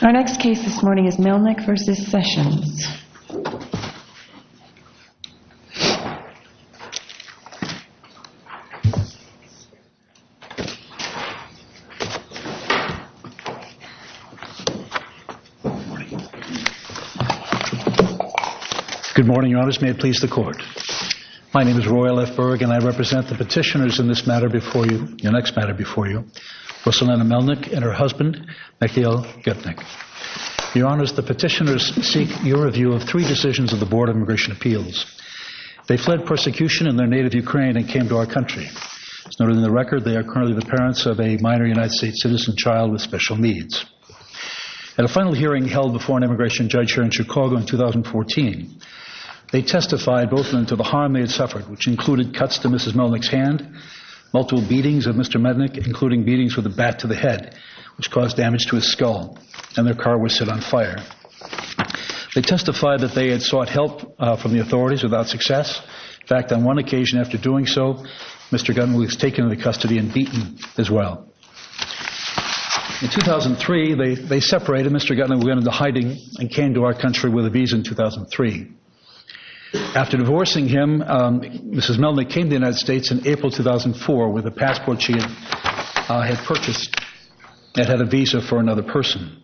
Our next case this morning is Melnik v. Sessions. Good morning, your honors. May it please the court. My name is Roy L. F. Berg and I represent the petitioners in this matter before you, your next matter before you, Rosalina Melnik and her husband, Mikhail Gepnik. Your honors, the petitioners seek your review of three decisions of the Board of Immigration Appeals. They fled persecution in their native Ukraine and came to our country. As noted in the record, they are currently the parents of a minor United States citizen child with special needs. At a final hearing held before an immigration judge here in Chicago in 2014, they testified both into the harm they had suffered, which included cuts to Mrs. Melnik's hand, multiple beatings of Mr. Melnik, including beatings with a bat to the head, which caused damage to his skull, and their car was set on fire. They testified that they had sought help from the authorities without success. In fact, on one occasion after doing so, Mr. Gepnik was taken into custody and beaten as well. In 2003, they separated Mr. Gepnik, went into hiding, and came to our country with a visa in 2003. After divorcing him, Mrs. Melnik came to the United States in April 2004 with a passport she had purchased and had a visa for another person.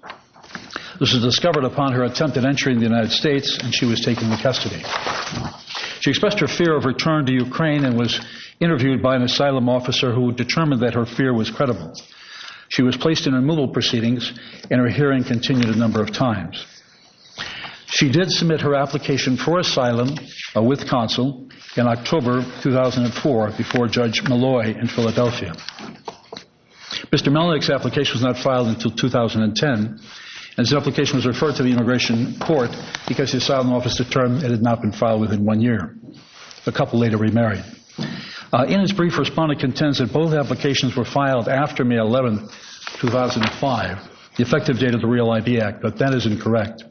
This was discovered upon her attempted entry into the United States and she was taken into custody. She expressed her fear of return to Ukraine and was interviewed by an asylum officer who determined that her fear was credible. She was placed in removal proceedings and her hearing continued a number of times. She did submit her application for asylum with counsel in October 2004 before Judge Malloy in Philadelphia. Mr. Melnik's application was not filed until 2010. His application was referred to the immigration court because the asylum office determined it had not been filed within one year. A couple later remarried. In his brief, a respondent contends that both applications were filed after May 11, 2005, the effective date of the Real ID Act, but that is incorrect.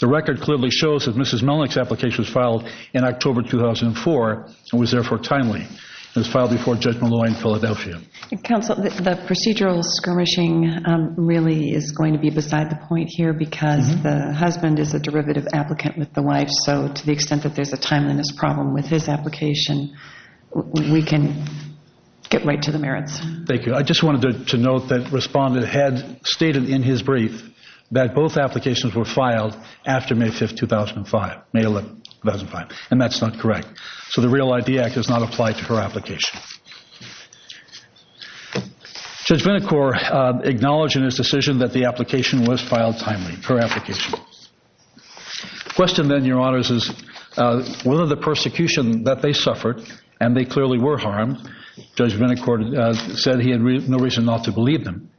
The record clearly shows that Mrs. Melnik's application was filed in October 2004 and was therefore timely. It was filed before Judge Malloy in Philadelphia. Counsel, the procedural skirmishing really is going to be beside the point here because the husband is a derivative applicant with the wife, so to the extent that there's a timeliness problem with his application, we can get right to the merits. Thank you. I just wanted to note that the respondent had stated in his brief that both applications were filed after May 5, 2005, May 11, 2005, and that's not correct. So the Real ID Act does not apply to her application. Judge Vinicor acknowledged in his decision that the application was filed timely, her application. The question then, Your Honors, is whether the persecution that they suffered, and they clearly were harmed, Judge Vinicor said he had no reason not to believe them,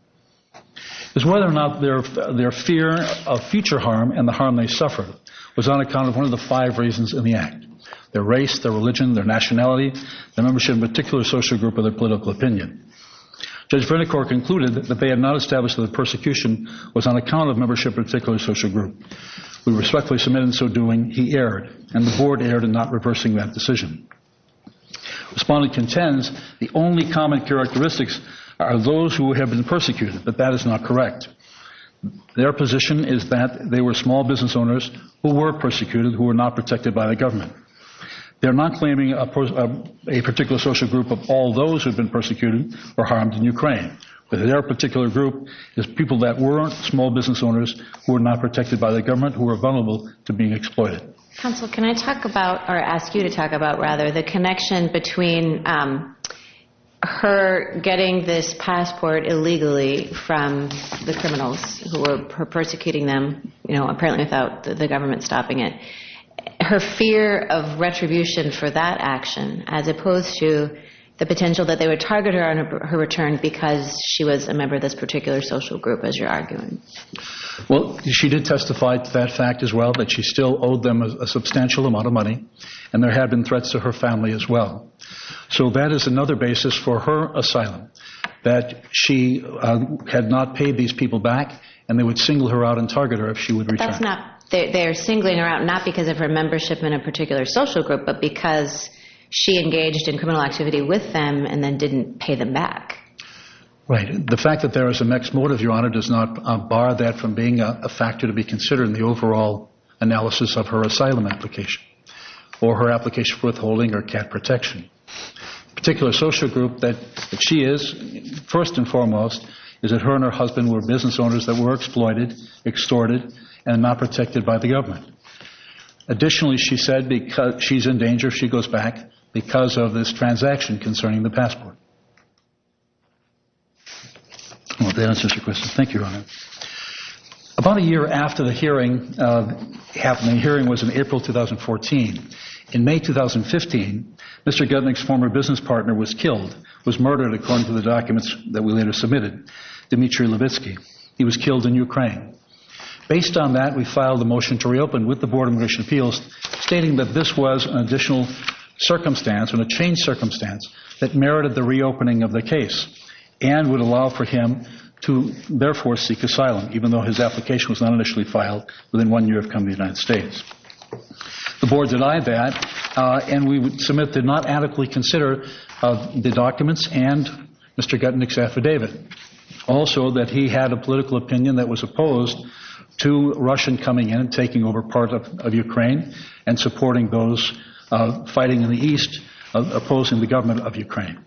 is whether or not their fear of future harm and the harm they suffered was on account of one of the five reasons in the act, their race, their religion, their nationality, their membership in a particular social group, or their political opinion. Judge Vinicor concluded that they had not established that the persecution was on account of membership in a particular social group. We respectfully submit in so doing he erred, and the Board erred in not reversing that decision. Respondent contends the only common characteristics are those who have been persecuted, but that is not correct. Their position is that they were small business owners who were persecuted, who were not protected by the government. They're not claiming a particular social group of all those who have been persecuted or harmed in Ukraine, but their particular group is people that were small business owners who were not protected by the government, who were vulnerable to being exploited. Counsel, can I talk about, or ask you to talk about, rather, the connection between her getting this passport illegally from the criminals who were persecuting them, you know, apparently without the government stopping it, her fear of retribution for that action, as opposed to the potential that they would target her on her return because she was a member of this particular social group, as you're arguing. Well, she did testify to that fact as well, but she still owed them a substantial amount of money, and there had been threats to her family as well. So that is another basis for her asylum, that she had not paid these people back, and they would single her out and target her if she would return. But that's not, they're singling her out not because of her membership in a particular social group, but because she engaged in criminal activity with them and then didn't pay them back. Right. The fact that there is a mixed motive, Your Honor, does not bar that from being a factor to be considered in the overall analysis of her asylum application, or her application for withholding her CAT protection. The particular social group that she is, first and foremost, is that her and her husband were business owners that were exploited, extorted, and not protected by the government. Additionally, she said she's in danger if she goes back because of this transaction concerning the passport. Well, that answers your question. Thank you, Your Honor. About a year after the hearing happened, the hearing was in April 2014. In May 2015, Mr. Guttnick's former business partner was killed, was murdered, according to the documents that we later submitted, Dmitry Levitsky. He was killed in Ukraine. Based on that, we filed a motion to reopen with the Board of Immigration Appeals, stating that this was an additional circumstance and a changed circumstance that merited the reopening of the case and would allow for him to therefore seek asylum, even though his application was not initially filed within one year of coming to the United States. The Board denied that, and we submit did not adequately consider the documents and Mr. Guttnick's affidavit. Also, that he had a political opinion that was opposed to Russian coming in and taking over part of Ukraine and supporting those fighting in the East, opposing the government of Ukraine.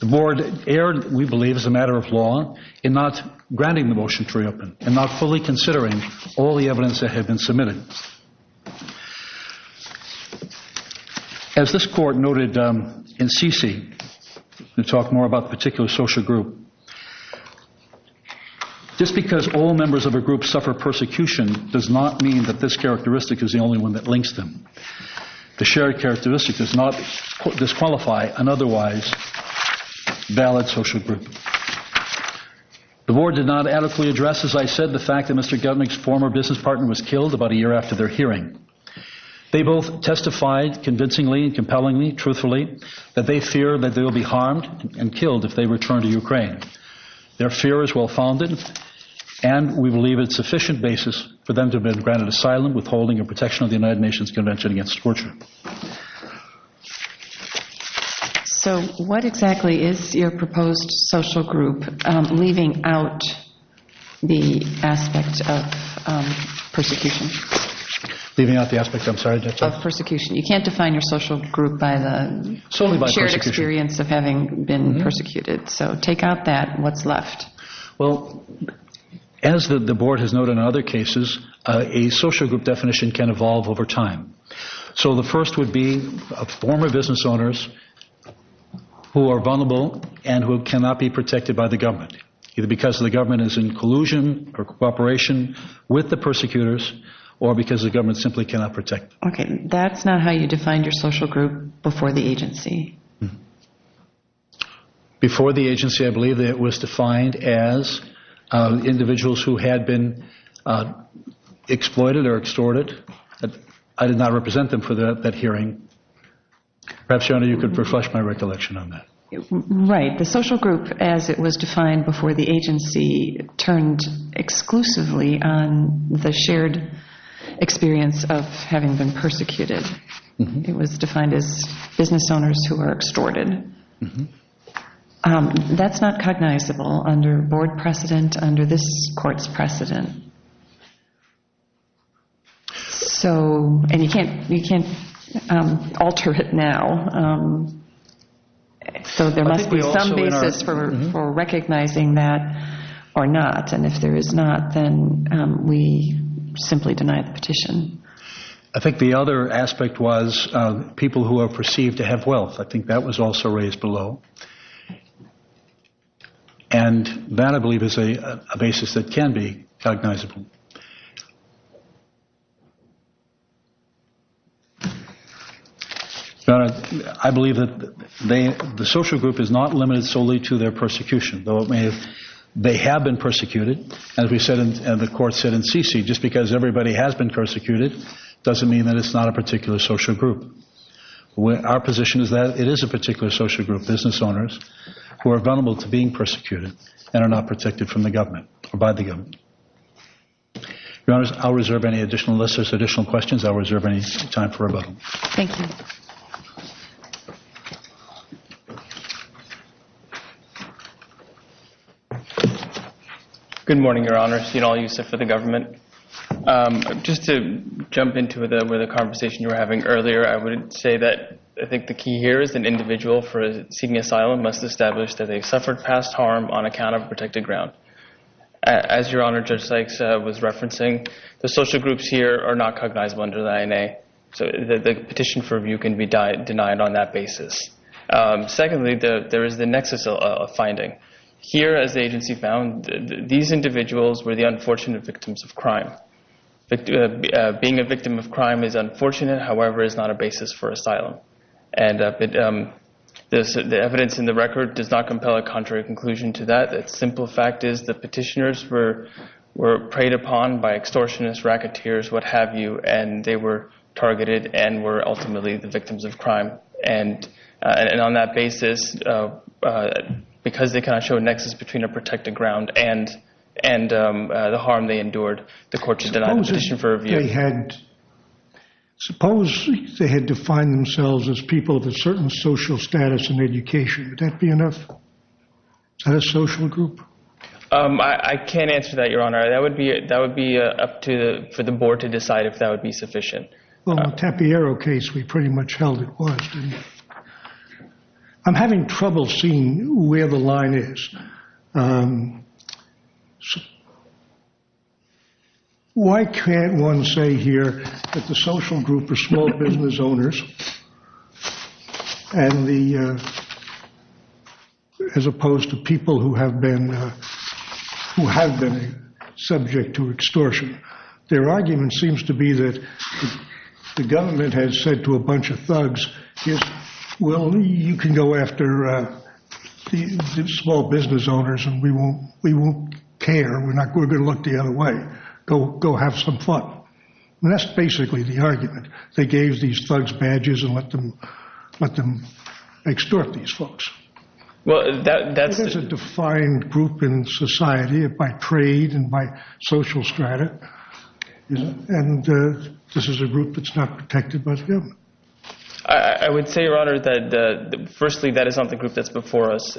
The Board erred, we believe, as a matter of law, in not granting the motion to reopen and not fully considering all the evidence that had been submitted. As this Court noted in C.C., to talk more about the particular social group, just because all members of a group suffer persecution does not mean that this characteristic is the only one that links them. The shared characteristic does not disqualify an otherwise valid social group. The Board did not adequately address, as I said, the fact that Mr. Guttnick's former business partner was killed about a year after their hearing. They both testified convincingly and compellingly, truthfully, that they fear that they will be harmed and killed if they return to Ukraine. Their fear is well-founded, and we believe it's sufficient basis for them to have been granted asylum, withholding a protection of the United Nations Convention against Torture. So what exactly is your proposed social group, leaving out the aspect of persecution? Leaving out the aspect, I'm sorry? Of persecution. You can't define your social group by the shared experience of having been persecuted. So take out that. What's left? Well, as the Board has noted in other cases, a social group definition can evolve over time. So the first would be former business owners who are vulnerable and who cannot be protected by the government, either because the government is in collusion or cooperation with the persecutors or because the government simply cannot protect them. Okay. That's not how you defined your social group before the agency. Before the agency, I believe that it was defined as individuals who had been exploited or extorted. I did not represent them for that hearing. Perhaps, Your Honor, you could refresh my recollection on that. Right. The social group, as it was defined before the agency, turned exclusively on the shared experience of having been persecuted. It was defined as business owners who were extorted. That's not cognizable under Board precedent, under this Court's precedent. And you can't alter it now. So there must be some basis for recognizing that or not. And if there is not, then we simply deny the petition. I think the other aspect was people who are perceived to have wealth. I think that was also raised below. And that, I believe, is a basis that can be cognizable. Your Honor, I believe that the social group is not limited solely to their persecution. Though they have been persecuted, as the Court said in CC, just because everybody has been persecuted doesn't mean that it's not a particular social group. Our position is that it is a particular social group, business owners, who are vulnerable to being persecuted and are not protected by the government. Your Honor, I'll reserve any additional lists or additional questions. I'll reserve any time for rebuttal. Thank you. Good morning, Your Honor. Steenol Yusuf for the government. Just to jump into the conversation you were having earlier, I would say that I think the key here is that an individual for seeking asylum must establish that they suffered past harm on account of protected ground. As Your Honor, Judge Sykes was referencing, the social groups here are not cognizable under the INA. So the petition for review can be denied on that basis. Secondly, there is the nexus of finding. Here, as the agency found, these individuals were the unfortunate victims of crime. Being a victim of crime is unfortunate, however, it's not a basis for asylum. And the evidence in the record does not compel a contrary conclusion to that. The simple fact is the petitioners were preyed upon by extortionists, racketeers, what have you, and they were targeted and were ultimately the victims of crime. And on that basis, because they cannot show a nexus between a protected ground and the harm they endured, the court should deny the petition for review. Suppose they had defined themselves as people with a certain social status and education. Would that be enough? Is that a social group? I can't answer that, Your Honor. That would be up to the board to decide if that would be sufficient. Well, the Tapiero case, we pretty much held it was, didn't we? I'm having trouble seeing where the line is. Why can't one say here that the social group are small business owners as opposed to people who have been subject to extortion? Their argument seems to be that the government has said to a bunch of thugs, well, you can go after the small business owners and we won't care, we're going to look the other way. Go have some fun. That's basically the argument. They gave these thugs badges and let them extort these folks. There's a defined group in society by trade and by social strata, and this is a group that's not protected by the government. I would say, Your Honor, that firstly that is not the group that's before us.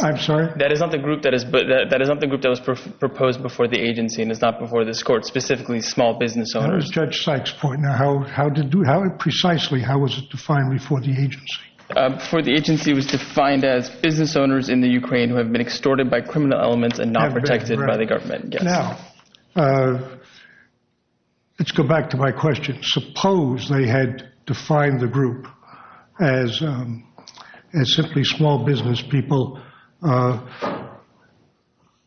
I'm sorry? That is not the group that was proposed before the agency and is not before this court. Specifically, small business owners. That was Judge Sykes' point. Now, precisely how was it defined before the agency? Before the agency, it was defined as business owners in the Ukraine who have been extorted by criminal elements and not protected by the government. Now, let's go back to my question. Suppose they had defined the group as simply small business people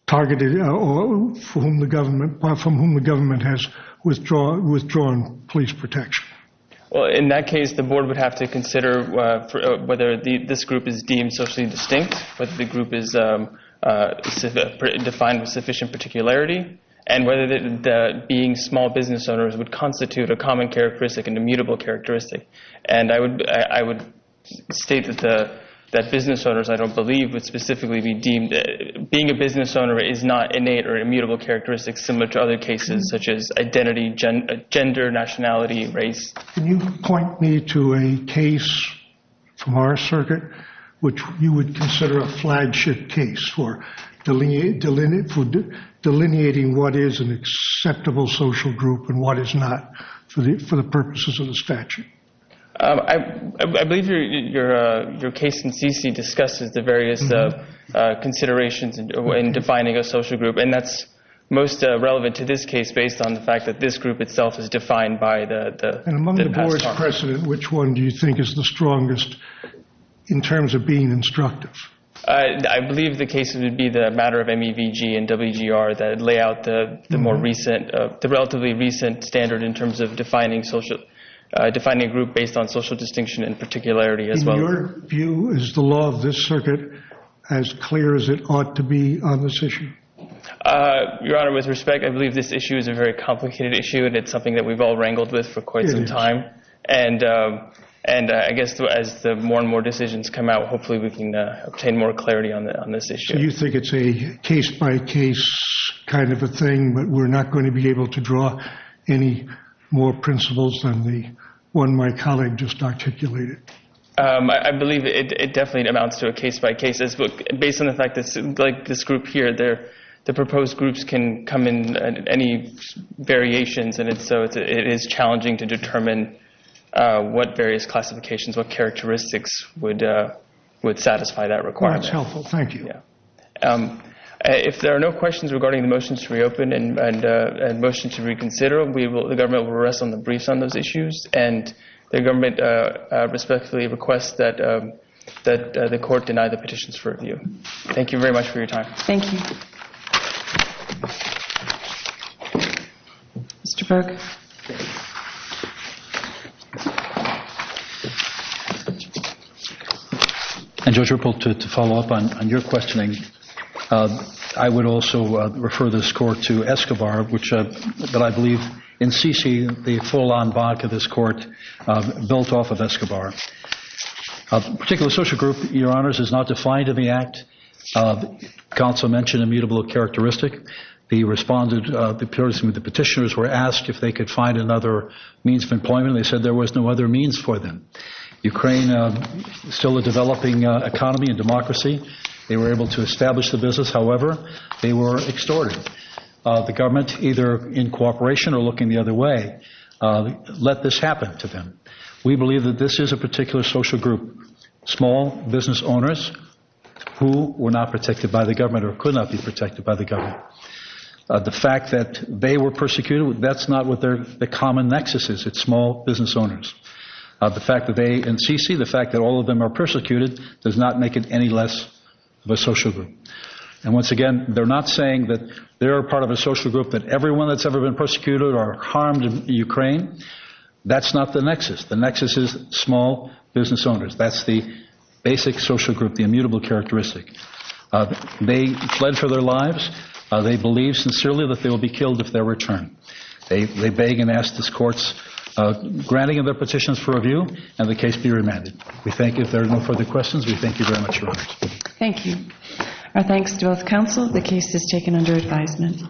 targeted, from whom the government has withdrawn police protection. In that case, the board would have to consider whether this group is deemed socially distinct, whether the group is defined with sufficient particularity, and whether being small business owners would constitute a common characteristic, an immutable characteristic. I would state that business owners, I don't believe, would specifically be deemed. Being a business owner is not innate or immutable characteristic similar to other cases, such as identity, gender, nationality, race. Can you point me to a case from our circuit which you would consider a flagship case for delineating what is an acceptable social group and what is not for the purposes of the statute? I believe your case in CC discusses the various considerations in defining a social group, and that's most relevant to this case based on the fact that this group itself is defined by the past. And among the board's precedent, which one do you think is the strongest in terms of being instructive? I believe the case would be the matter of MEVG and WGR that lay out the more recent, the relatively recent standard in terms of defining social, defining a group based on social distinction and particularity as well. In your view, is the law of this circuit as clear as it ought to be on this issue? Your Honor, with respect, I believe this issue is a very complicated issue, and it's something that we've all wrangled with for quite some time. It is. And I guess as more and more decisions come out, hopefully we can obtain more clarity on this issue. You think it's a case-by-case kind of a thing, but we're not going to be able to draw any more principles than the one my colleague just articulated? I believe it definitely amounts to a case-by-case. Based on the fact that, like this group here, the proposed groups can come in any variations, and so it is challenging to determine what various classifications, what characteristics would satisfy that requirement. That's helpful. Thank you. If there are no questions regarding the motions to reopen and motions to reconsider, the government will rest on the briefs on those issues, and the government respectfully requests that the court deny the petitions for review. Thank you very much for your time. Thank you. Mr. Burke. And, Judge Ruppel, to follow up on your questioning, I would also refer this court to Escobar, which I believe in C.C., the full-on vodka this court built off of Escobar. A particular social group, Your Honors, is not defined in the Act. The counsel mentioned immutable characteristic. They could find another means of employment. They said there was no other means for them. Ukraine is still a developing economy and democracy. They were able to establish the business. However, they were extorted. The government, either in cooperation or looking the other way, let this happen to them. We believe that this is a particular social group, small business owners, who were not protected by the government or could not be protected by the government. The fact that they were persecuted, that's not what the common nexus is. It's small business owners. The fact that they, in C.C., the fact that all of them are persecuted, does not make it any less of a social group. And once again, they're not saying that they're a part of a social group, that everyone that's ever been persecuted or harmed in Ukraine. That's not the nexus. The nexus is small business owners. That's the basic social group, the immutable characteristic. They fled for their lives. They believe sincerely that they will be killed if they're returned. They beg and ask this court's granting of their petitions for review, and the case be remanded. We thank you. If there are no further questions, we thank you very much. Thank you. Our thanks to both counsel. The case is taken under advisement.